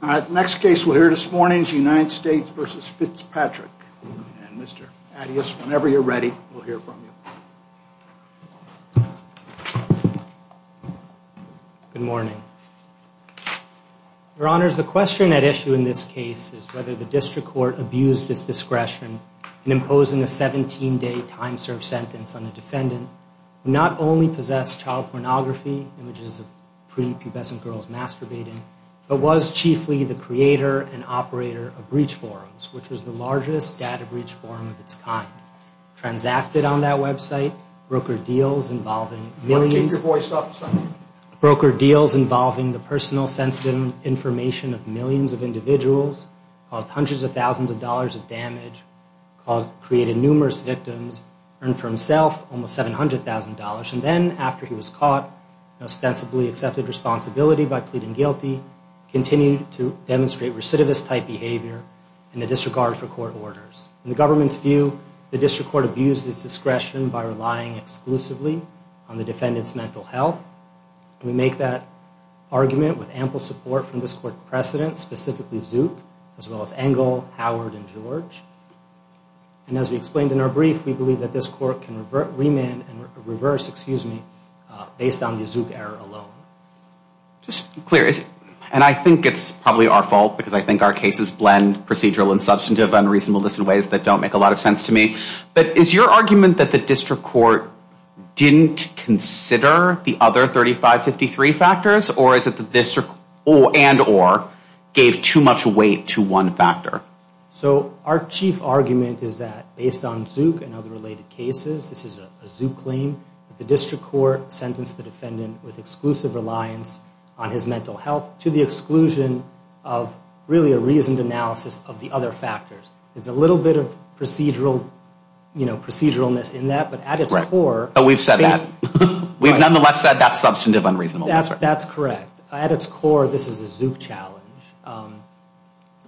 The next case we'll hear this morning is United States v. Fitzpatrick. And Mr. Attias, whenever you're ready, we'll hear from you. Good morning. Your Honors, the question at issue in this case is whether the District Court abused its discretion in imposing a 17-day time-served sentence on a defendant who not only possessed child pornography, images of pretty pubescent girls masturbating, but was chiefly the creator and operator of Breach Forums, which was the largest data breach forum of its kind. Transacted on that website, broker deals involving millions... Keep your voice up, son. Broker deals involving the personal sensitive information of millions of individuals, caused hundreds of thousands of dollars of damage, created numerous victims, earned for himself almost $700,000. And then, after he was caught, ostensibly accepted responsibility by pleading guilty, continued to demonstrate recidivist-type behavior and a disregard for court orders. In the government's view, the District Court abused its discretion by relying exclusively on the defendant's mental health. We make that argument with ample support from this Court's precedents, specifically Zook, as well as Engel, Howard, and George. And as we explained in our brief, we believe that this Court can remand and reverse, excuse me, based on the Zook error alone. Just to be clear, and I think it's probably our fault, because I think our cases blend procedural and substantive unreasonableness in ways that don't make a lot of sense to me, but is your argument that the District Court didn't consider the other 3553 factors, or is it that the District and or gave too much weight to one factor? So our chief argument is that, based on Zook and other related cases, this is a Zook claim that the District Court sentenced the defendant with exclusive reliance on his mental health to the exclusion of really a reasoned analysis of the other factors. There's a little bit of procedural, you know, proceduralness in that, but at its core... But we've said that. We've nonetheless said that's substantive unreasonableness. That's correct. At its core, this is a Zook challenge.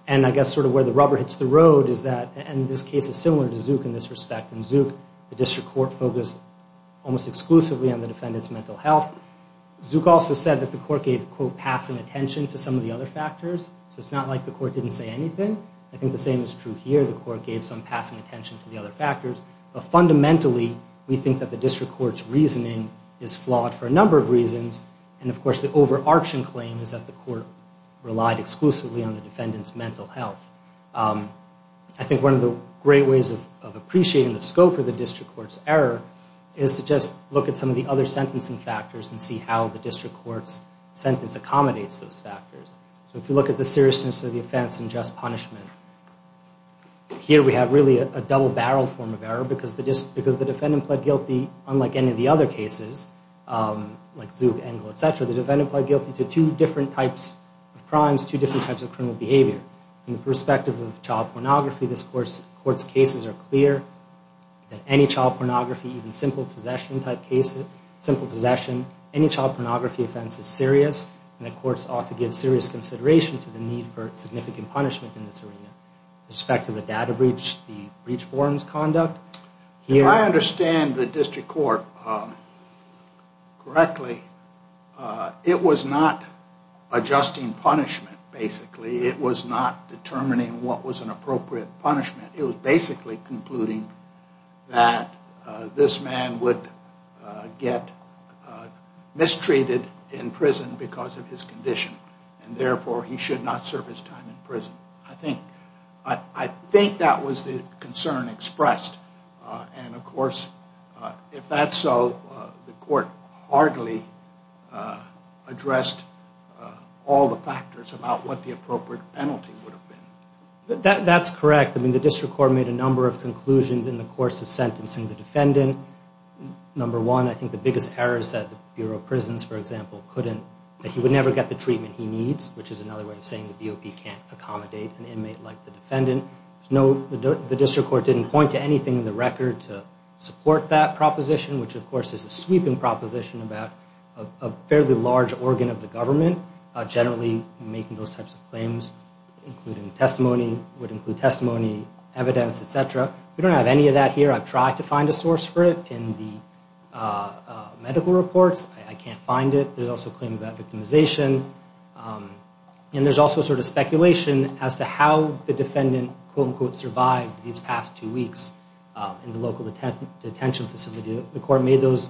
And I guess sort of where the rubber hits the road is that... And this case is similar to Zook in this respect. In Zook, the District Court focused almost exclusively on the defendant's mental health. Zook also said that the Court gave, quote, passing attention to some of the other factors. So it's not like the Court didn't say anything. I think the same is true here. The Court gave some passing attention to the other factors. But fundamentally, we think that the District Court's reasoning is flawed for a number of reasons. And, of course, the overarching claim is that the Court relied exclusively on the defendant's mental health. I think one of the great ways of appreciating the scope of the District Court's error is to just look at some of the other sentencing factors and see how the District Court's sentence accommodates those factors. So if you look at the seriousness of the offense and just punishment, here we have really a double-barreled form of error because the defendant pled guilty, unlike any of the other cases, like Zook, Engel, etc., the defendant pled guilty to two different types of crimes, two different types of criminal behavior. In the perspective of child pornography, this Court's cases are clear that any child pornography, even simple possession-type cases, simple possession, any child pornography offense is serious and the Courts ought to give serious consideration to the need for significant punishment in this arena. With respect to the data breach, the breach forms conduct, here... If I understand the District Court correctly, it was not adjusting punishment, basically. It was not determining what was an appropriate punishment. It was basically concluding that this man would get mistreated in prison because of his condition and, therefore, he should not serve his time in prison. I think that was the concern expressed. And, of course, if that's so, the Court hardly addressed all the factors about what the appropriate penalty would have been. That's correct. I mean, the District Court made a number of conclusions in the course of sentencing the defendant. Number one, I think the biggest error is that the Bureau of Prisons, for example, that he would never get the treatment he needs, which is another way of saying the BOP can't accommodate an inmate like the defendant. The District Court didn't point to anything in the record to support that proposition, which, of course, is a sweeping proposition about a fairly large organ of the government generally making those types of claims, including testimony, would include testimony, evidence, etc. We don't have any of that here. I've tried to find a source for it in the medical reports. I can't find it. There's also a claim about victimization. And there's also sort of speculation as to how the defendant, quote-unquote, survived these past two weeks in the local detention facility. The Court made those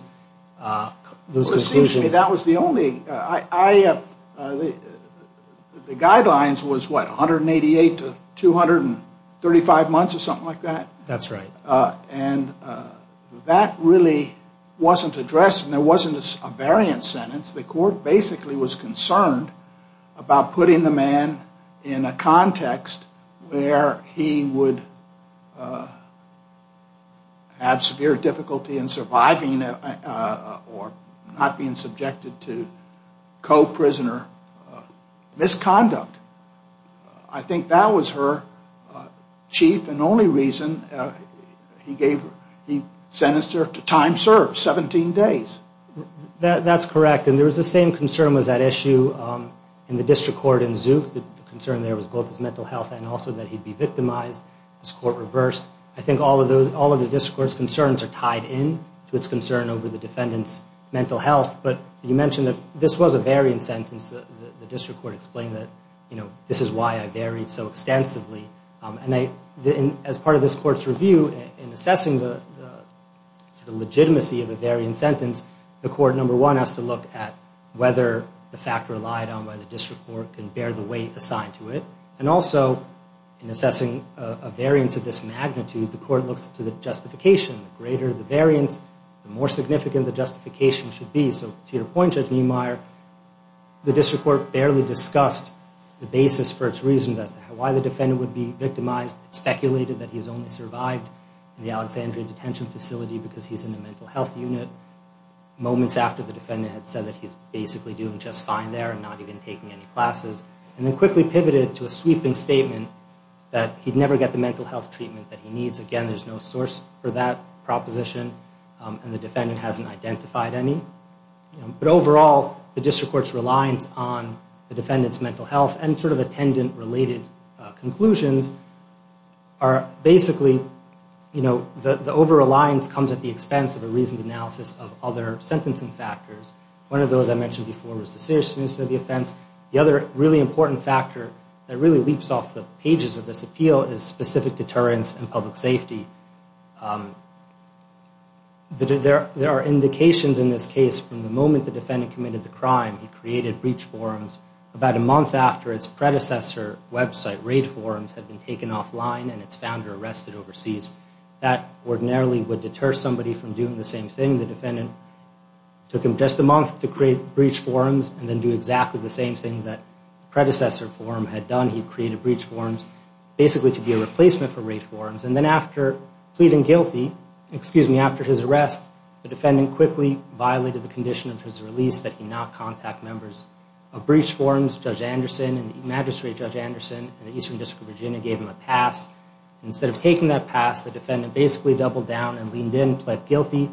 conclusions. Well, it seems to me that was the only... The guidelines was, what, 188 to 235 months or something like that? That's right. And that really wasn't addressed, and there wasn't a variant sentence. The Court basically was concerned about putting the man in a context where he would have severe difficulty in surviving or not being subjected to co-prisoner misconduct. I think that was her chief and only reason he sentenced her to time served, 17 days. That's correct. And there was the same concern was that issue in the District Court in Zook. The concern there was both his mental health and also that he'd be victimized. This Court reversed. I think all of the District Court's concerns are tied in to its concern over the defendant's mental health. But you mentioned that this was a variant sentence. The District Court explained that this is why I varied so extensively. As part of this Court's review, in assessing the legitimacy of a variant sentence, the Court, number one, has to look at whether the fact relied on by the District Court can bear the weight assigned to it. And also, in assessing a variance of this magnitude, the Court looks to the justification. The greater the variance, the more significant the justification should be. To your point, Judge Niemeyer, the District Court barely discussed the basis for its reasons as to why the defendant would be victimized. It speculated that he's only survived in the Alexandria Detention Facility because he's in a mental health unit, moments after the defendant had said that he's basically doing just fine there and not even taking any classes, and then quickly pivoted to a sweeping statement that he'd never get the mental health treatment that he needs. Again, there's no source for that proposition, and the defendant hasn't identified any. But overall, the District Court's reliance on the defendant's mental health and sort of attendant-related conclusions are basically, you know, the over-reliance comes at the expense of a reasoned analysis of other sentencing factors. One of those I mentioned before was the seriousness of the offense. The other really important factor that really leaps off the pages of this appeal is specific deterrence and public safety. There are indications in this case from the moment the defendant committed the crime, he created breach forums about a month after its predecessor website, Raid Forums, had been taken offline and its founder arrested overseas. That ordinarily would deter somebody from doing the same thing. The defendant took him just a month to create breach forums and then do exactly the same thing that the predecessor forum had done. He created breach forums basically to be a replacement for Raid Forums. And then after pleading guilty, excuse me, after his arrest, the defendant quickly violated the condition of his release that he not contact members of breach forums. Judge Anderson and the Magistrate, Judge Anderson, and the Eastern District of Virginia gave him a pass. Instead of taking that pass, the defendant basically doubled down and leaned in, pled guilty,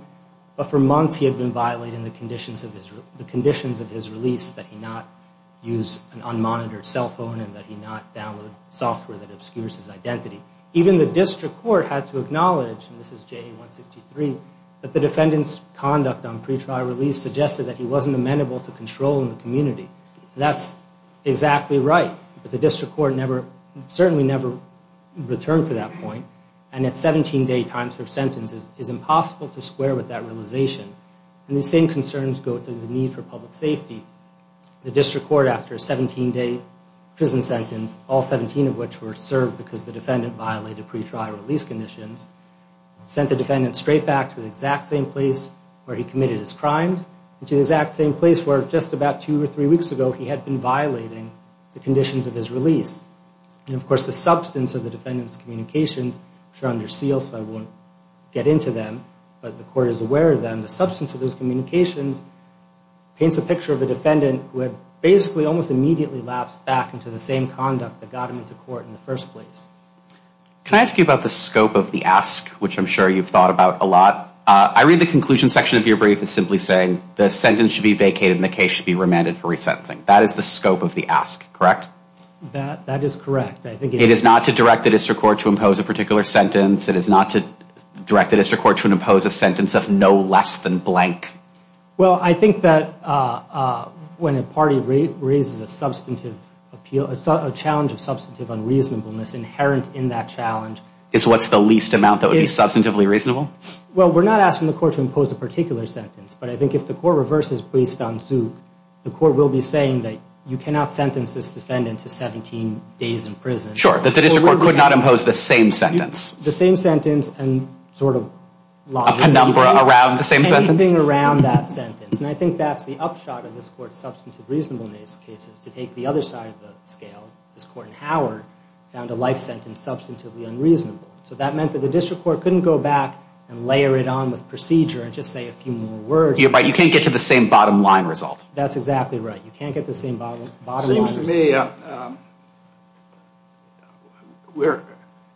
but for months he had been violating the conditions of his release, that he not use an unmonitored cell phone and that he not download software that obscures his identity. Even the district court had to acknowledge, and this is JA-163, that the defendant's conduct on pre-trial release suggested that he wasn't amenable to control in the community. That's exactly right. But the district court certainly never returned to that point. And a 17-day time for sentence is impossible to square with that realization. And the same concerns go to the need for public safety. The district court, after a 17-day prison sentence, all 17 of which were served because the defendant violated pre-trial release conditions, sent the defendant straight back to the exact same place where he committed his crimes and to the exact same place where just about two or three weeks ago he had been violating the conditions of his release. And, of course, the substance of the defendant's communications, which are under seal so I won't get into them, but the court is aware of them, the substance of those communications paints a picture of a defendant who had basically almost immediately lapsed back into the same conduct that got him into court in the first place. Can I ask you about the scope of the ask, which I'm sure you've thought about a lot? I read the conclusion section of your brief as simply saying the sentence should be vacated and the case should be remanded for resentencing. That is the scope of the ask, correct? That is correct. It is not to direct the district court to impose a particular sentence. It is not to direct the district court to impose a sentence of no less than blank. Well, I think that when a party raises a substantive appeal, a challenge of substantive unreasonableness inherent in that challenge Is what's the least amount that would be substantively reasonable? Well, we're not asking the court to impose a particular sentence, but I think if the court reverses based on Zook, the court will be saying that you cannot sentence this defendant to 17 days in prison. Sure, that the district court could not impose the same sentence. The same sentence and sort of logic. A penumbra around the same sentence? Anything around that sentence. And I think that's the upshot of this court's substantive reasonableness case is to take the other side of the scale. This court in Howard found a life sentence substantively unreasonable. So that meant that the district court couldn't go back and layer it on with procedure and just say a few more words. You can't get to the same bottom line result. That's exactly right. You can't get the same bottom line result. It seems to me,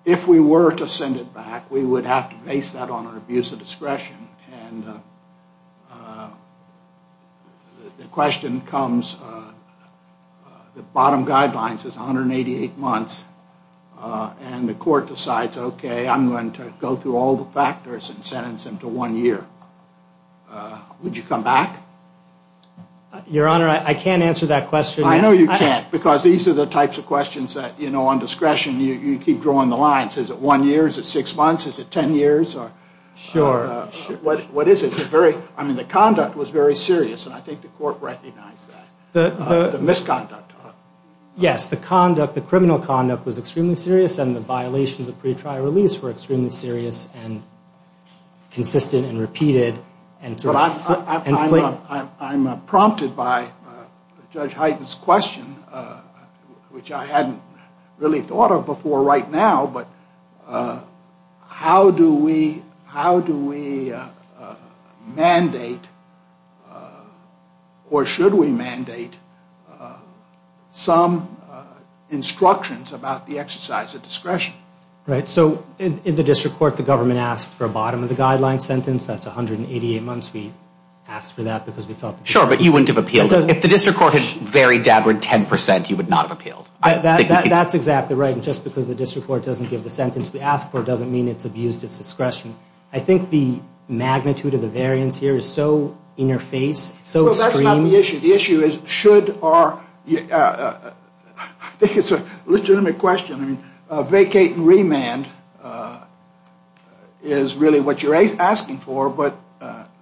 if we were to send it back, we would have to base that on an abuse of discretion. And the question comes, the bottom guideline says 188 months. And the court decides, okay, I'm going to go through all the factors and sentence him to one year. Would you come back? Your Honor, I can't answer that question. I know you can't because these are the types of questions that, you know, on discretion you keep drawing the lines. Is it one year? Is it six months? Is it ten years? Sure. What is it? I mean, the conduct was very serious, and I think the court recognized that. The misconduct. Yes, the criminal conduct was extremely serious and the violations of pretrial release were extremely serious and consistent and repeated. I'm prompted by Judge Hyten's question, which I hadn't really thought of before right now, but how do we mandate or should we mandate some instructions about the exercise of discretion? Right. So in the district court, the government asked for a bottom of the guideline sentence. That's 188 months. We asked for that because we thought the district court was... Sure, but you wouldn't have appealed it. If the district court had very dabbered 10%, you would not have appealed. That's exactly right. Just because the district court doesn't give the sentence we asked for doesn't mean it's abused its discretion. I think the magnitude of the variance here is so in your face, so extreme... Well, that's not the issue. The issue is should our... I think it's a legitimate question. Vacate and remand is really what you're asking for, but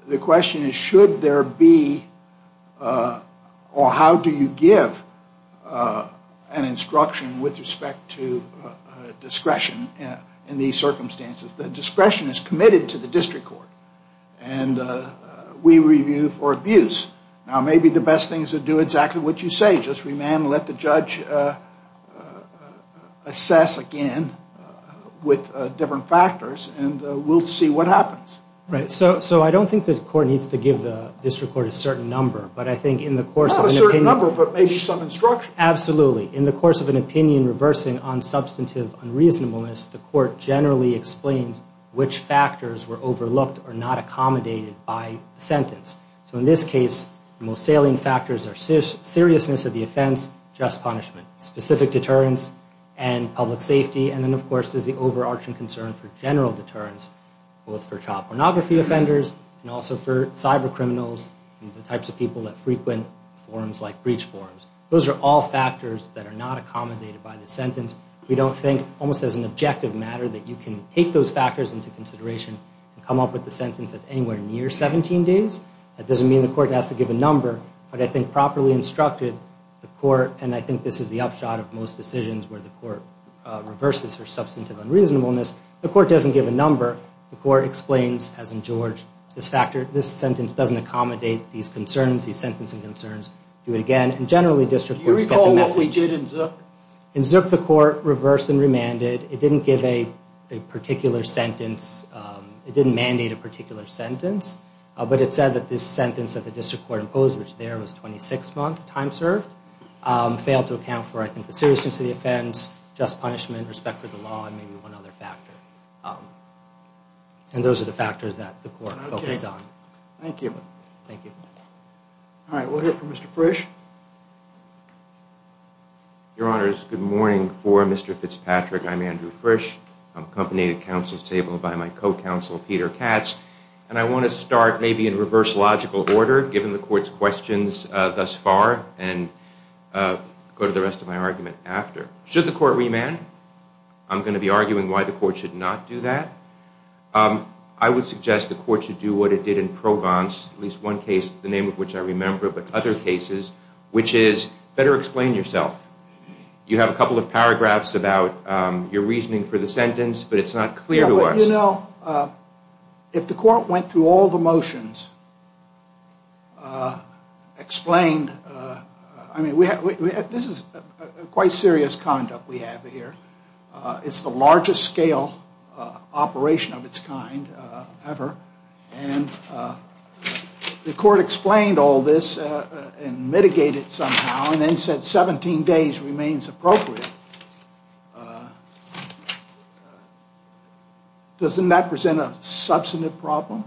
the question is should there be or how do you give an instruction with respect to discretion in these circumstances? The discretion is committed to the district court, and we review for abuse. Now, maybe the best thing is to do exactly what you say, just remand and let the judge assess again with different factors, and we'll see what happens. Right. So I don't think the court needs to give the district court a certain number, but I think in the course of an opinion... Not a certain number, but maybe some instruction. Absolutely. In the course of an opinion reversing on substantive unreasonableness, the court generally explains which factors were overlooked or not accommodated by the sentence. So in this case, the most salient factors are seriousness of the offense, just punishment, specific deterrence, and public safety, and then, of course, there's the overarching concern for general deterrence, both for child pornography offenders and also for cyber criminals and the types of people that frequent forums like breach forums. Those are all factors that are not accommodated by the sentence. We don't think, almost as an objective matter, that you can take those factors into consideration and come up with a sentence that's anywhere near 17 days. That doesn't mean the court has to give a number, but I think properly instructed, the court, and I think this is the upshot of most decisions where the court reverses for substantive unreasonableness, the court doesn't give a number. The court explains, as in George, this sentence doesn't accommodate these concerns, these sentencing concerns, do it again, and generally district courts get the message. Do you recall what we did in Zook? In Zook, the court reversed and remanded. It didn't give a particular sentence. It didn't mandate a particular sentence, but it said that this sentence that the district court imposed, which there was 26 months, time served, failed to account for, I think, the seriousness of the offense, just punishment, respect for the law, and maybe one other factor. And those are the factors that the court focused on. Thank you. Thank you. All right, we'll hear from Mr. Frisch. Your Honors, good morning. For Mr. Fitzpatrick, I'm Andrew Frisch. I'm accompanied at counsel's table by my co-counsel, Peter Katz, and I want to start maybe in reverse logical order, given the court's questions thus far, and go to the rest of my argument after. Should the court remand? I'm going to be arguing why the court should not do that. I would suggest the court should do what it did in Provence, at least one case, the name of which I remember, but other cases, which is better explain yourself. You have a couple of paragraphs about your reasoning for the sentence, but it's not clear to us. You know, if the court went through all the motions, explained, I mean, this is quite serious conduct we have here. It's the largest scale operation of its kind ever, and the court explained all this and mitigated it somehow and then said 17 days remains appropriate. Doesn't that present a substantive problem?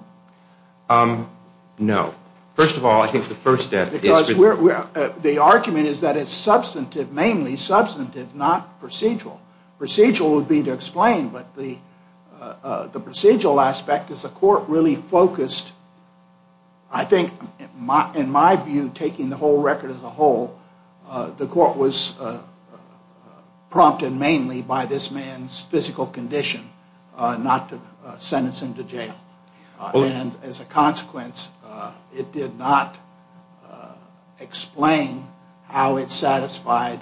No. First of all, I think the first step is... Because the argument is that it's substantive, mainly substantive, not procedural. Procedural would be to explain, but the procedural aspect is the court really focused, I think, in my view, taking the whole record as a whole, the court was prompted mainly by this man's physical condition, not to sentence him to jail. And as a consequence, it did not explain how it satisfied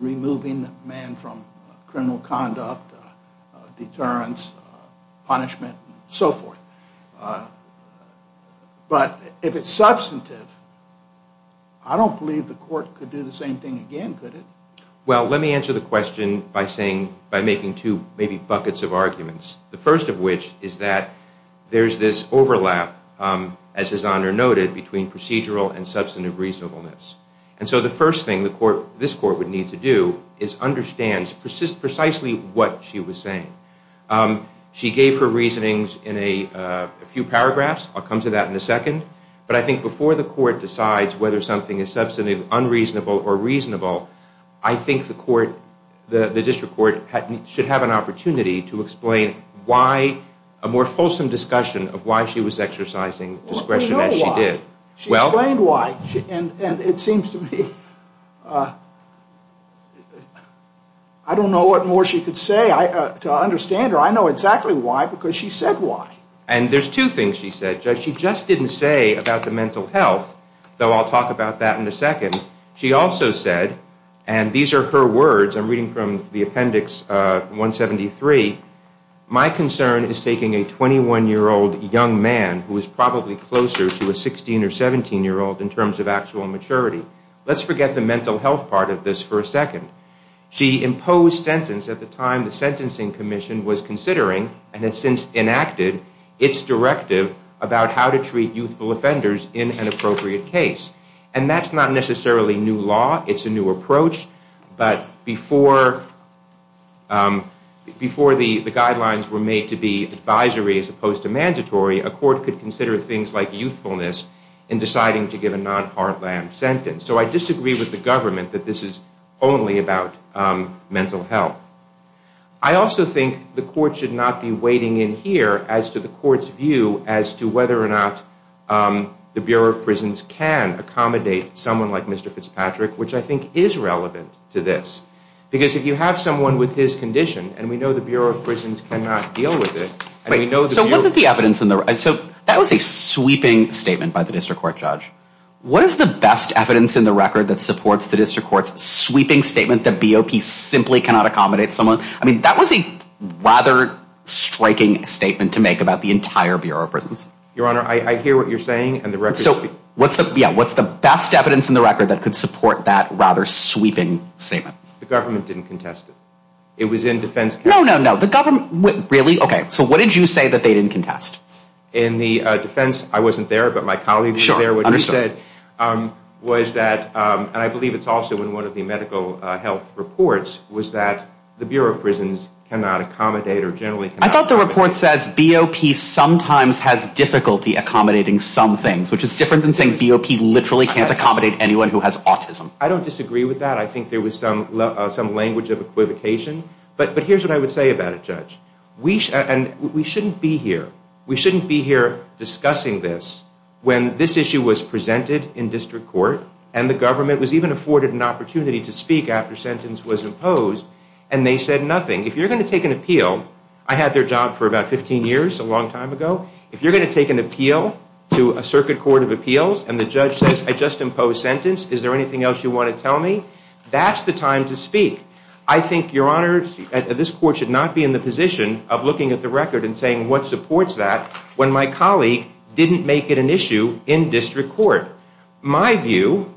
removing the man from criminal conduct, deterrence, punishment, and so forth. But if it's substantive, I don't believe the court could do the same thing again, could it? Well, let me answer the question by making two maybe buckets of arguments. The first of which is that there's this overlap, as His Honor noted, between procedural and substantive reasonableness. And so the first thing this court would need to do is understand precisely what she was saying. She gave her reasonings in a few paragraphs. I'll come to that in a second. But I think before the court decides whether something is substantive, unreasonable, or reasonable, I think the district court should have an opportunity to explain why a more fulsome discussion of why she was exercising discretion as she did. Well, we know why. She explained why. And it seems to me, I don't know what more she could say to understand her. I know exactly why because she said why. And there's two things she said. She just didn't say about the mental health, though I'll talk about that in a second. She also said, and these are her words. I'm reading from the Appendix 173. My concern is taking a 21-year-old young man who is probably closer to a 16- or 17-year-old in terms of actual maturity. Let's forget the mental health part of this for a second. She imposed sentence at the time the Sentencing Commission was considering and has since enacted its directive about how to treat youthful offenders in an appropriate case. And that's not necessarily new law. It's a new approach. But before the guidelines were made to be advisory as opposed to mandatory, a court could consider things like youthfulness in deciding to give a non-heartland sentence. So I disagree with the government that this is only about mental health. I also think the court should not be wading in here as to the court's view as to whether or not the Bureau of Prisons can accommodate someone like Mr. Fitzpatrick, which I think is relevant to this. Because if you have someone with his condition, and we know the Bureau of Prisons cannot deal with it, and we know the Bureau of Prisons cannot deal with it, and we know the Bureau of Prisons cannot deal with it, What is the best evidence in the record that supports the district court's sweeping statement that BOP simply cannot accommodate someone? I mean, that was a rather striking statement to make about the entire Bureau of Prisons. Your Honor, I hear what you're saying. So what's the best evidence in the record that could support that rather sweeping statement? The government didn't contest it. It was in defense. No, no, no. Really? Okay. So what did you say that they didn't contest? In the defense, I wasn't there, but my colleague was there. So what you said was that, and I believe it's also in one of the medical health reports, was that the Bureau of Prisons cannot accommodate or generally cannot accommodate. I thought the report says BOP sometimes has difficulty accommodating some things, which is different than saying BOP literally can't accommodate anyone who has autism. I don't disagree with that. I think there was some language of equivocation. But here's what I would say about it, Judge. We shouldn't be here. We shouldn't be here discussing this when this issue was presented in district court and the government was even afforded an opportunity to speak after sentence was imposed and they said nothing. If you're going to take an appeal, I had their job for about 15 years a long time ago, if you're going to take an appeal to a circuit court of appeals and the judge says, I just imposed sentence, is there anything else you want to tell me? That's the time to speak. I think, Your Honor, this court should not be in the position of looking at the record and saying what supports that when my colleague didn't make it an issue in district court. My view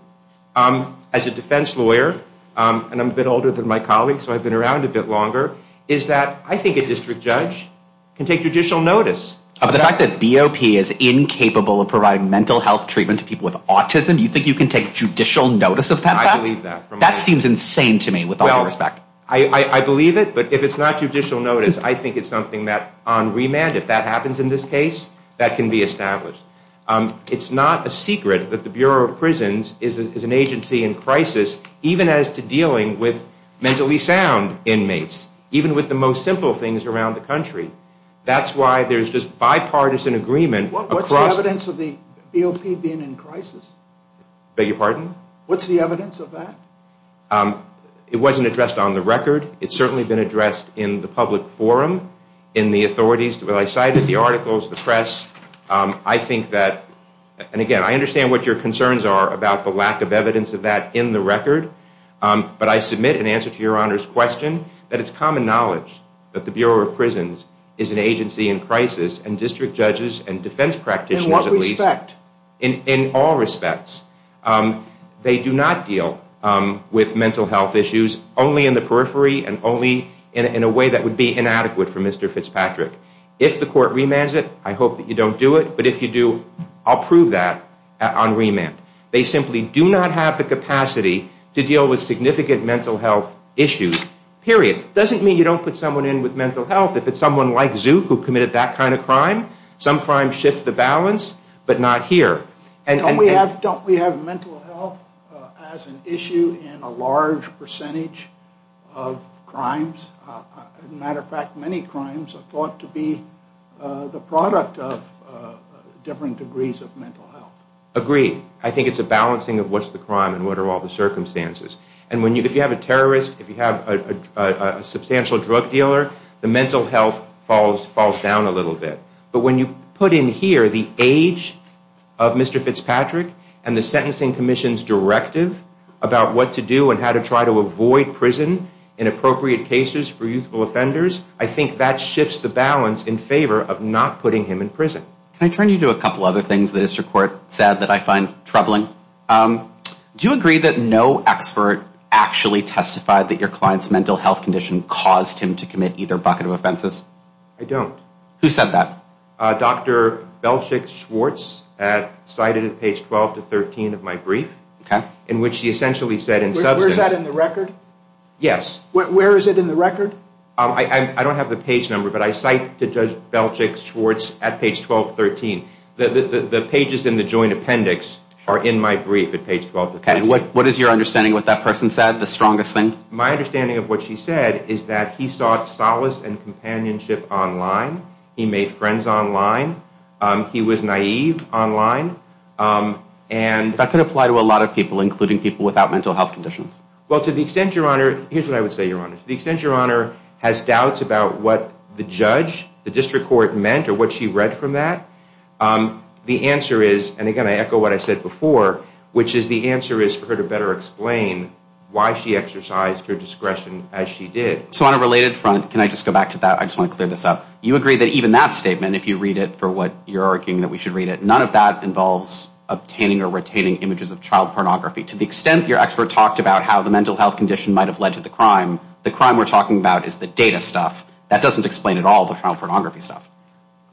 as a defense lawyer, and I'm a bit older than my colleague, so I've been around a bit longer, is that I think a district judge can take judicial notice. Of the fact that BOP is incapable of providing mental health treatment to people with autism, you think you can take judicial notice of that fact? I believe that. That seems insane to me, with all due respect. I believe it, but if it's not judicial notice, I think it's something that on remand, if that happens in this case, that can be established. It's not a secret that the Bureau of Prisons is an agency in crisis, even as to dealing with mentally sound inmates, even with the most simple things around the country. That's why there's just bipartisan agreement. What's the evidence of the BOP being in crisis? Beg your pardon? What's the evidence of that? It wasn't addressed on the record. It's certainly been addressed in the public forum, in the authorities. I cited the articles, the press. I think that, and again, I understand what your concerns are about the lack of evidence of that in the record, but I submit in answer to your Honor's question that it's common knowledge that the Bureau of Prisons is an agency in crisis, and district judges and defense practitioners at least. In all respects. They do not deal with mental health issues only in the periphery and only in a way that would be inadequate for Mr. Fitzpatrick. If the court remands it, I hope that you don't do it, but if you do, I'll prove that on remand. They simply do not have the capacity to deal with significant mental health issues, period. It doesn't mean you don't put someone in with mental health. If it's someone like Zook who committed that kind of crime, some crimes shift the balance, but not here. Don't we have mental health as an issue in a large percentage of crimes? As a matter of fact, many crimes are thought to be the product of different degrees of mental health. Agreed. I think it's a balancing of what's the crime and what are all the circumstances. And if you have a terrorist, if you have a substantial drug dealer, the mental health falls down a little bit. But when you put in here the age of Mr. Fitzpatrick and the sentencing commission's directive about what to do and how to try to avoid prison in appropriate cases for youthful offenders, I think that shifts the balance in favor of not putting him in prison. Can I turn you to a couple other things the district court said that I find troubling? Do you agree that no expert actually testified that your client's mental health condition caused him to commit either bucket of offenses? I don't. Who said that? Dr. Belchick-Schwartz cited at page 12 to 13 of my brief, in which he essentially said in substance Where's that in the record? Yes. Where is it in the record? I don't have the page number, but I cite to Judge Belchick-Schwartz at page 12 to 13. The pages in the joint appendix are in my brief at page 12 to 13. And what is your understanding of what that person said, the strongest thing? My understanding of what she said is that he sought solace and companionship online. He made friends online. He was naive online. That could apply to a lot of people, including people without mental health conditions. Well, to the extent, Your Honor, here's what I would say, Your Honor. To the extent Your Honor has doubts about what the judge, the district court meant, or what she read from that, the answer is, and again, I echo what I said before, which is the answer is for her to better explain why she exercised her discretion as she did. So on a related front, can I just go back to that? I just want to clear this up. You agree that even that statement, if you read it for what you're arguing that we should read it, none of that involves obtaining or retaining images of child pornography. To the extent your expert talked about how the mental health condition might have led to the crime, the crime we're talking about is the data stuff. That doesn't explain at all the child pornography stuff.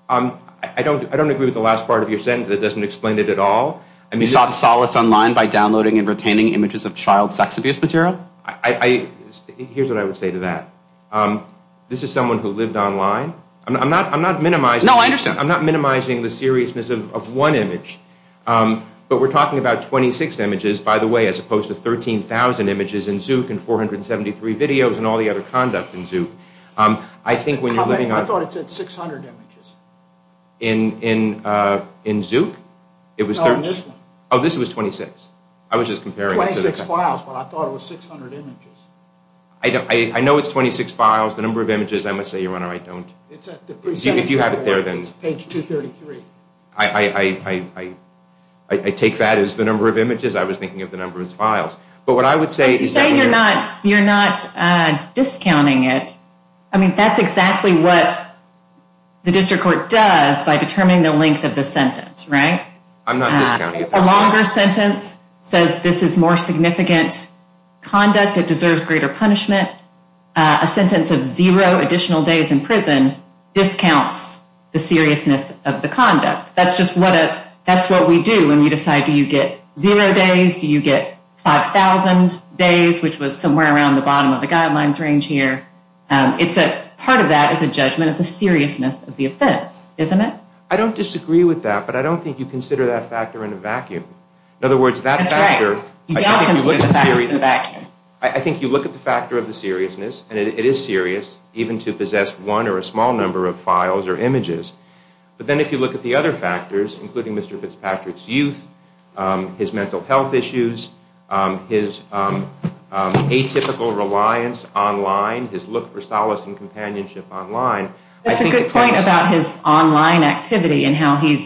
I don't agree with the last part of your sentence that doesn't explain it at all. You sought solace online by downloading and retaining images of child sex abuse material? Here's what I would say to that. This is someone who lived online. I'm not minimizing the seriousness of one image. But we're talking about 26 images, by the way, as opposed to 13,000 images in Zouk and 473 videos and all the other conduct in Zouk. I thought it said 600 images. In Zouk? No, in this one. Oh, this was 26. I was just comparing. 26 files, but I thought it was 600 images. I know it's 26 files. The number of images, I must say, Your Honor, I don't. If you have it there, then... It's page 233. I take that as the number of images. I was thinking of the number of files. But what I would say... You're saying you're not discounting it. I mean, that's exactly what the district court does by determining the length of the sentence, right? I'm not discounting it. A longer sentence says this is more significant conduct. It deserves greater punishment. A sentence of zero additional days in prison discounts the seriousness of the conduct. That's just what we do when you decide do you get zero days, do you get 5,000 days, which was somewhere around the bottom of the guidelines range here. Part of that is a judgment of the seriousness of the offense, isn't it? I don't disagree with that, but I don't think you consider that factor in a vacuum. That's right. You don't consider the factors in a vacuum. I think you look at the factor of the seriousness, and it is serious, even to possess one or a small number of files or images. But then if you look at the other factors, including Mr. Fitzpatrick's youth, his mental health issues, his atypical reliance online, his look for solace and companionship online. That's a good point about his online activity and how he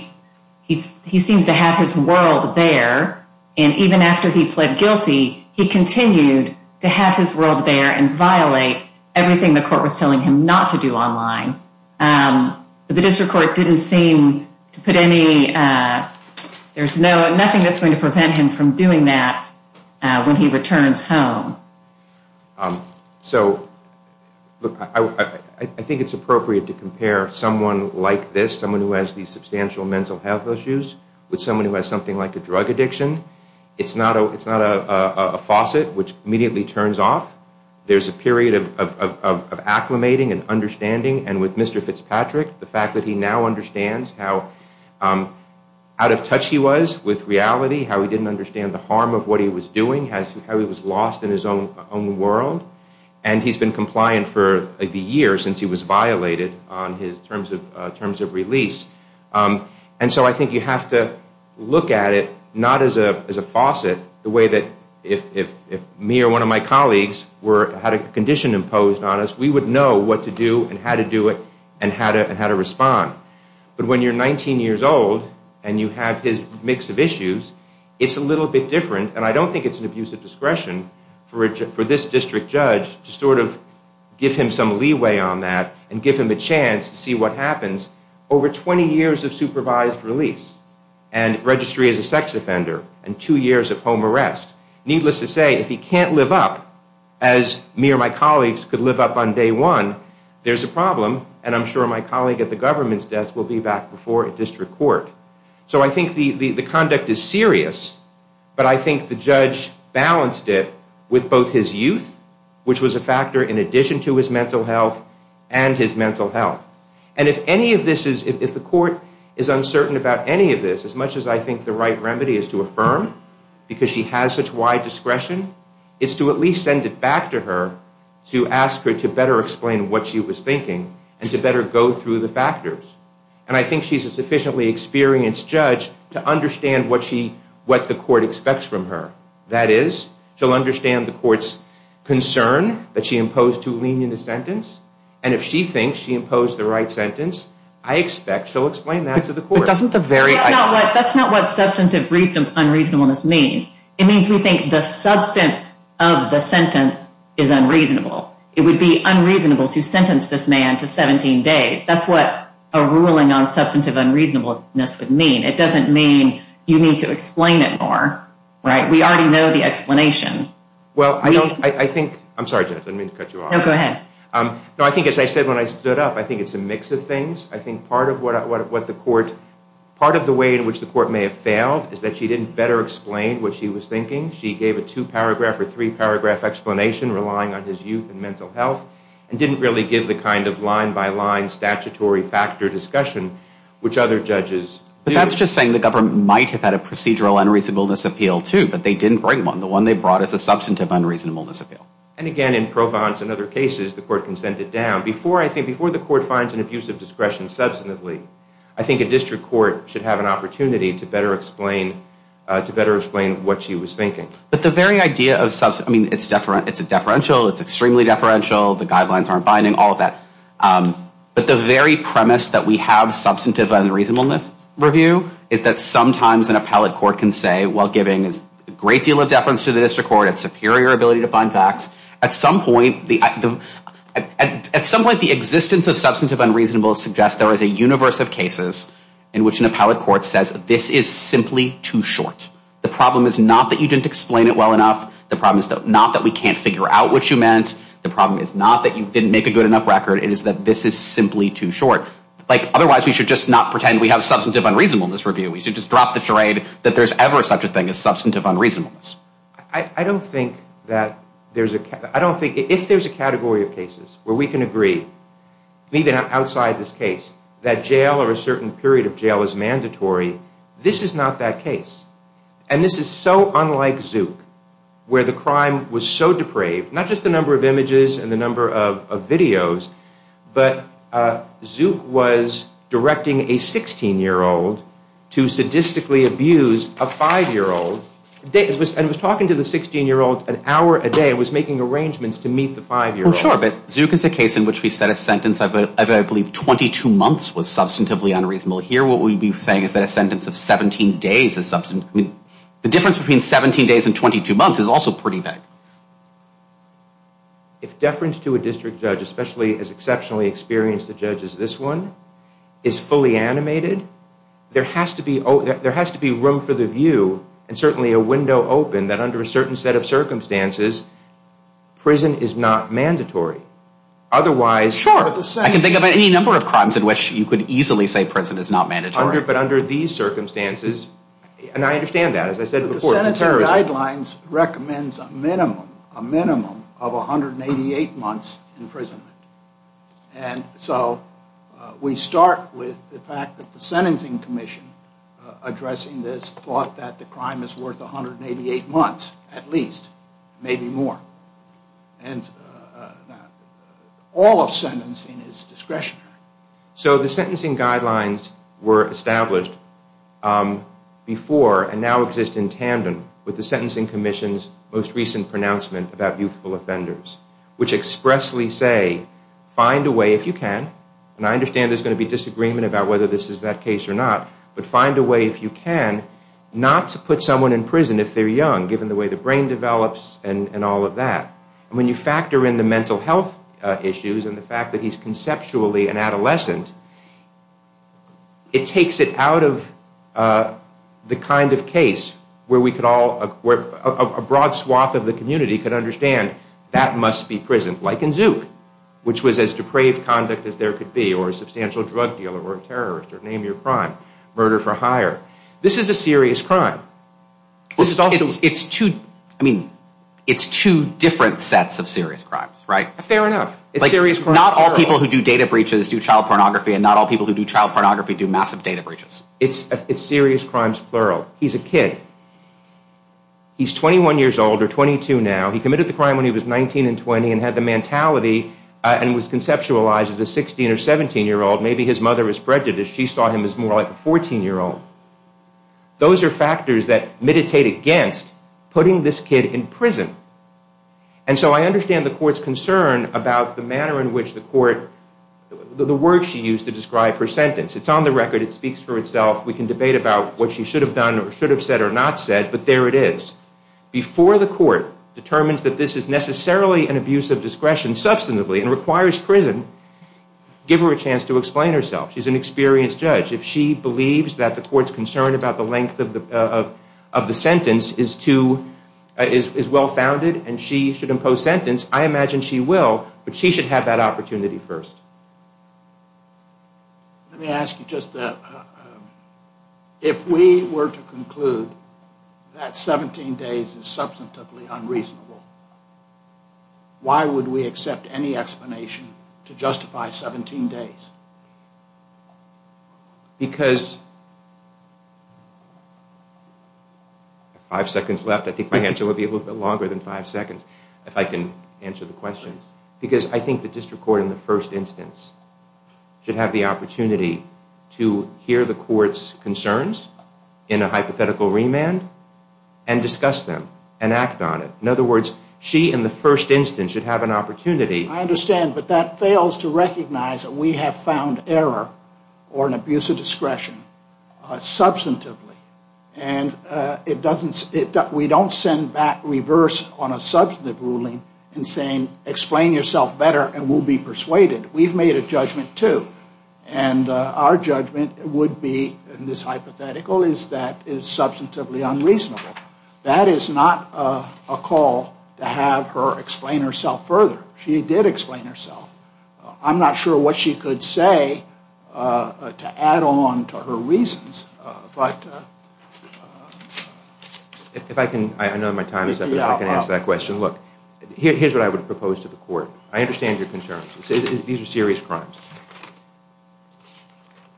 seems to have his world there. And even after he pled guilty, he continued to have his world there and violate everything the court was telling him not to do online. The district court didn't seem to put any, there's nothing that's going to prevent him from doing that when he returns home. So, look, I think it's appropriate to compare someone like this, someone who has these substantial mental health issues, with someone who has something like a drug addiction. It's not a faucet which immediately turns off. There's a period of acclimating and understanding, and with Mr. Fitzpatrick, the fact that he now understands how out of touch he was with reality, how he didn't understand the harm of what he was doing, how he was lost in his own world. And he's been compliant for the year since he was violated on his terms of release. And so I think you have to look at it not as a faucet, the way that if me or one of my colleagues had a condition imposed on us, we would know what to do and how to do it and how to respond. But when you're 19 years old and you have his mix of issues, it's a little bit different, and I don't think it's an abuse of discretion for this district judge to sort of give him some leeway on that and give him a chance to see what happens. Over 20 years of supervised release and registry as a sex offender and two years of home arrest, needless to say, if he can't live up, as me or my colleagues could live up on day one, there's a problem, and I'm sure my colleague at the government's desk will be back before a district court. So I think the conduct is serious, but I think the judge balanced it with both his youth, which was a factor in addition to his mental health, and his mental health. And if any of this is, if the court is uncertain about any of this, as much as I think the right remedy is to affirm, because she has such wide discretion, it's to at least send it back to her to ask her to better explain what she was thinking and to better go through the factors. And I think she's a sufficiently experienced judge to understand what the court expects from her. That is, she'll understand the court's concern that she imposed too lenient a sentence, and if she thinks she imposed the right sentence, I expect she'll explain that to the court. That's not what substantive unreasonableness means. It means we think the substance of the sentence is unreasonable. It would be unreasonable to sentence this man to 17 days. That's what a ruling on substantive unreasonableness would mean. It doesn't mean you need to explain it more. We already know the explanation. Well, I think, I'm sorry, Jennifer, I didn't mean to cut you off. No, go ahead. No, I think as I said when I stood up, I think it's a mix of things. I think part of what the court, part of the way in which the court may have failed is that she didn't better explain what she was thinking. She gave a two-paragraph or three-paragraph explanation relying on his youth and mental health and didn't really give the kind of line-by-line statutory factor discussion which other judges do. But that's just saying the government might have had a procedural unreasonableness appeal too, but they didn't bring one. The one they brought is a substantive unreasonableness appeal. And again, in Provence and other cases, the court consented down. Before the court finds an abuse of discretion substantively, I think a district court should have an opportunity to better explain what she was thinking. But the very idea of substantive, I mean, it's a deferential. It's extremely deferential. The guidelines aren't binding, all of that. But the very premise that we have substantive unreasonableness review is that sometimes an appellate court can say while giving a great deal of deference to the district court and its superior ability to find facts, at some point the existence of substantive unreasonableness suggests there is a universe of cases in which an appellate court says this is simply too short. The problem is not that you didn't explain it well enough. The problem is not that we can't figure out what you meant. The problem is not that you didn't make a good enough record. It is that this is simply too short. Otherwise, we should just not pretend we have substantive unreasonableness review. We should just drop the charade that there's ever such a thing as substantive unreasonableness. I don't think that there's a... I don't think if there's a category of cases where we can agree, even outside this case, that jail or a certain period of jail is mandatory, this is not that case. And this is so unlike Zouk, where the crime was so depraved, not just the number of images and the number of videos, but Zouk was directing a 16-year-old to sadistically abuse a 5-year-old. And it was talking to the 16-year-old an hour a day. It was making arrangements to meet the 5-year-old. Well, sure, but Zouk is a case in which we set a sentence of, I believe, 22 months was substantively unreasonable. Here, what we'd be saying is that a sentence of 17 days is substantive. I mean, the difference between 17 days and 22 months is also pretty big. If deference to a district judge, especially as exceptionally experienced a judge as this one, is fully animated, there has to be room for the view and certainly a window open that under a certain set of circumstances, prison is not mandatory. I can think of any number of crimes in which you could easily say prison is not mandatory. But under these circumstances, and I understand that. As I said before, it's a terrorism. The sentencing guidelines recommends a minimum of 188 months imprisonment. And so we start with the fact that the sentencing commission addressing this has thought that the crime is worth 188 months at least, maybe more. And all of sentencing is discretionary. So the sentencing guidelines were established before and now exist in tandem with the sentencing commission's most recent pronouncement about youthful offenders, which expressly say, find a way if you can, and I understand there's going to be disagreement about whether this is that case or not, but find a way if you can not to put someone in prison if they're young, given the way the brain develops and all of that. When you factor in the mental health issues and the fact that he's conceptually an adolescent, it takes it out of the kind of case where a broad swath of the community could understand that must be prison, like in Zouk, which was as depraved conduct as there could be, or a substantial drug dealer, or a terrorist, or name your crime, murder for hire. This is a serious crime. It's two different sets of serious crimes, right? Fair enough. Not all people who do data breaches do child pornography, and not all people who do child pornography do massive data breaches. It's serious crimes, plural. He's a kid. He's 21 years old, or 22 now. He committed the crime when he was 19 and 20 and had the mentality and was conceptualized as a 16 or 17-year-old. Maybe his mother was prejudiced. She saw him as more like a 14-year-old. Those are factors that meditate against putting this kid in prison. And so I understand the court's concern about the manner in which the court, the word she used to describe her sentence. It's on the record. It speaks for itself. We can debate about what she should have done or should have said or not said, but there it is. Before the court determines that this is necessarily an abuse of discretion substantively and requires prison, give her a chance to explain herself. She's an experienced judge. If she believes that the court's concern about the length of the sentence is well-founded and she should impose sentence, I imagine she will, but she should have that opportunity first. Let me ask you just that. If we were to conclude that 17 days is substantively unreasonable, why would we accept any explanation to justify 17 days? Because, I have five seconds left. I think my answer would be a little bit longer than five seconds if I can answer the question. Because I think the district court, in the first instance, should have the opportunity to hear the court's concerns in a hypothetical remand and discuss them and act on it. In other words, she, in the first instance, should have an opportunity. I understand, but that fails to recognize that we have found error or an abuse of discretion substantively, and we don't send back reverse on a substantive ruling in saying explain yourself better and we'll be persuaded. We've made a judgment, too. And our judgment would be, in this hypothetical, is that it is substantively unreasonable. That is not a call to have her explain herself further. She did explain herself. I'm not sure what she could say to add on to her reasons. If I can, I know my time is up, if I can ask that question. Look, here's what I would propose to the court. I understand your concerns. These are serious crimes.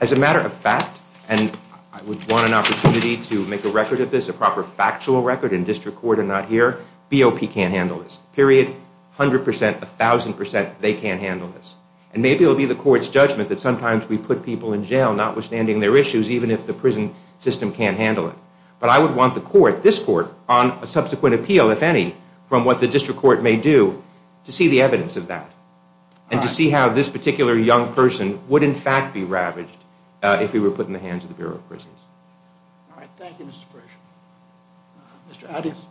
As a matter of fact, and I would want an opportunity to make a record of this, a proper factual record in district court and not here, BOP can't handle this, period. A hundred percent, a thousand percent, they can't handle this. And maybe it will be the court's judgment that sometimes we put people in jail, notwithstanding their issues, even if the prison system can't handle it. But I would want the court, this court, on a subsequent appeal, if any, from what the district court may do to see the evidence of that and to see how this particular young person would, in fact, be ravaged if he were put in the hands of the Bureau of Prisons. All right, thank you, Mr. Frisch. Mr. Addis.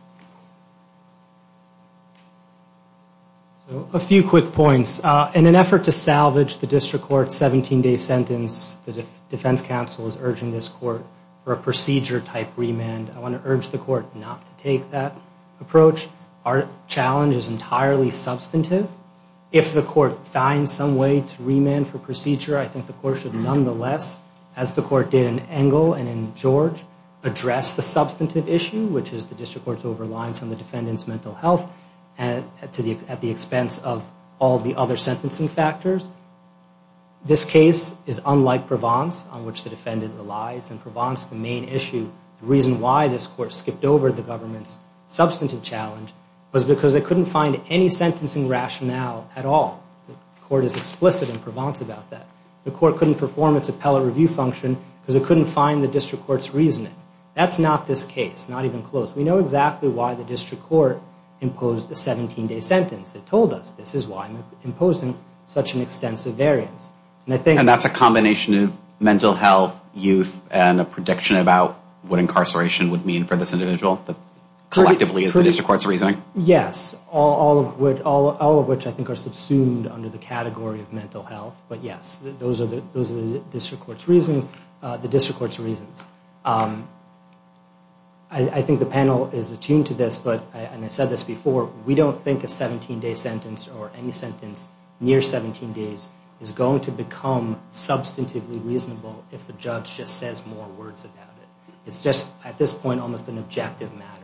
A few quick points. In an effort to salvage the district court's 17-day sentence, the defense counsel is urging this court for a procedure-type remand. I want to urge the court not to take that approach. Our challenge is entirely substantive. If the court finds some way to remand for procedure, I think the court should nonetheless, as the court did in Engle and in George, address the substantive issue, which is the district court's over-reliance on the defendant's mental health at the expense of all the other sentencing factors. This case is unlike Provence, on which the defendant relies. In Provence, the main issue, the reason why this court skipped over the government's substantive challenge was because it couldn't find any sentencing rationale at all. The court is explicit in Provence about that. The court couldn't perform its appellate review function because it couldn't find the district court's reasoning. That's not this case, not even close. We know exactly why the district court imposed a 17-day sentence. They told us this is why it was imposed in such an extensive variance. And that's a combination of mental health, youth, and a prediction about what incarceration would mean for this individual, collectively, is the district court's reasoning? Yes, all of which I think are subsumed under the category of mental health. But yes, those are the district court's reasons. I think the panel is attuned to this, but, and I said this before, we don't think a 17-day sentence or any sentence near 17 days is going to become substantively reasonable if a judge just says more words about it. It's just, at this point, almost an objective matter.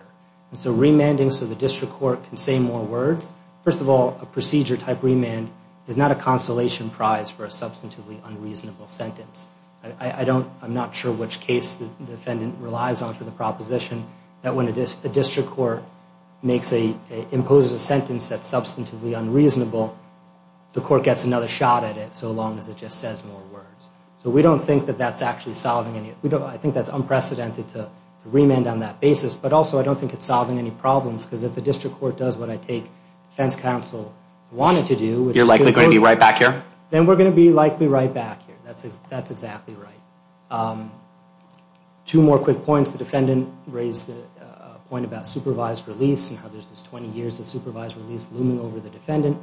And so remanding so the district court can say more words, first of all, a procedure-type remand is not a consolation prize for a substantively unreasonable sentence. I'm not sure which case the defendant relies on for the proposition that when a district court imposes a sentence that's substantively unreasonable, the court gets another shot at it so long as it just says more words. So we don't think that that's actually solving any, I think that's unprecedented to remand on that basis, but also I don't think it's solving any problems because if the district court does what I take defense counsel wanted to do, You're likely going to be right back here? Then we're going to be likely right back here. That's exactly right. Two more quick points. The defendant raised a point about supervised release and how there's this 20 years of supervised release looming over the defendant.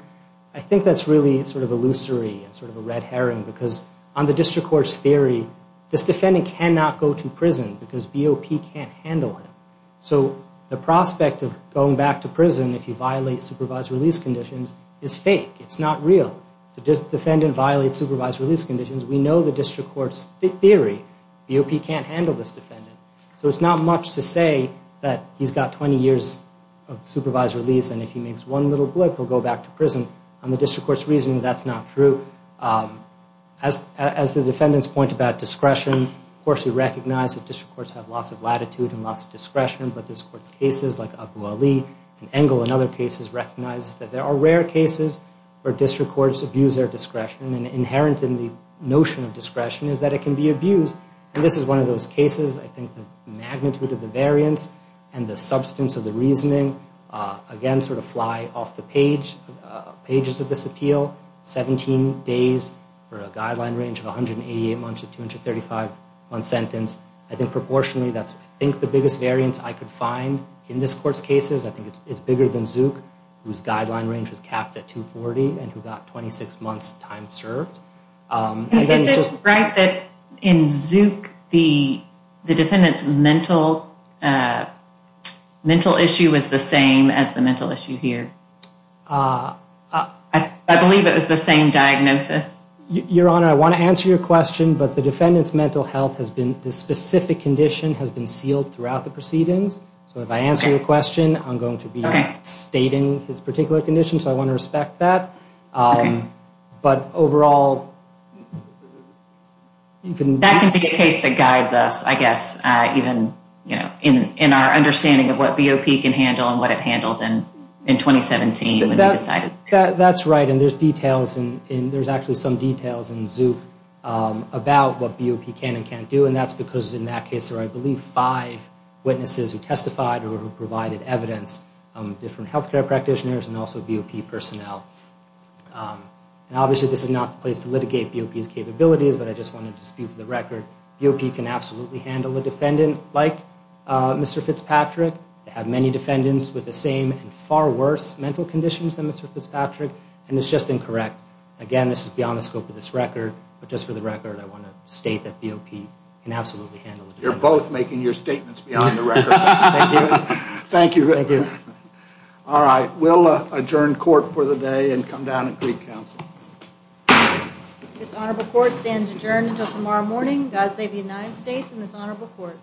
I think that's really sort of illusory and sort of a red herring because on the district court's theory, this defendant cannot go to prison because BOP can't handle him. So the prospect of going back to prison if you violate supervised release conditions is fake. It's not real. The defendant violates supervised release conditions. We know the district court's theory. BOP can't handle this defendant. So it's not much to say that he's got 20 years of supervised release and if he makes one little blip, he'll go back to prison. On the district court's reasoning, that's not true. As the defendant's point about discretion, of course we recognize that district courts have lots of latitude and lots of discretion, but this court's cases like Abu Ali and Engel and other cases recognize that there are rare cases where district courts abuse their discretion and inherent in the notion of discretion is that it can be abused. This is one of those cases. I think the magnitude of the variance and the substance of the reasoning, again, sort of fly off the pages of this appeal, 17 days for a guideline range of 188 months to 235-month sentence. I think proportionally that's, I think, the biggest variance I could find in this court's cases. I think it's bigger than Zook, whose guideline range was capped at 240 and who got 26 months' time served. Is it right that in Zook the defendant's mental issue was the same as the mental issue here? I believe it was the same diagnosis. Your Honor, I want to answer your question, but the defendant's mental health has been, the specific condition has been sealed throughout the proceedings. So if I answer your question, I'm going to be stating his particular condition, so I want to respect that. But overall... That can be a case that guides us, I guess, even in our understanding of what BOP can handle and what it handled in 2017 when we decided. That's right, and there's details, and there's actually some details in Zook about what BOP can and can't do, and that's because in that case there were, I believe, five witnesses who testified or who provided evidence, different health care practitioners and also BOP personnel. And obviously this is not the place to litigate BOP's capabilities, but I just want to dispute the record. BOP can absolutely handle a defendant like Mr. Fitzpatrick. They have many defendants with the same and far worse mental conditions than Mr. Fitzpatrick, and it's just incorrect. Again, this is beyond the scope of this record, but just for the record I want to state that BOP can absolutely handle a defendant like Mr. Fitzpatrick. You're both making your statements beyond the record. Thank you. All right, we'll adjourn court for the day and come down at Greek Council. This honorable court stands adjourned until tomorrow morning. God save the United States and this honorable court.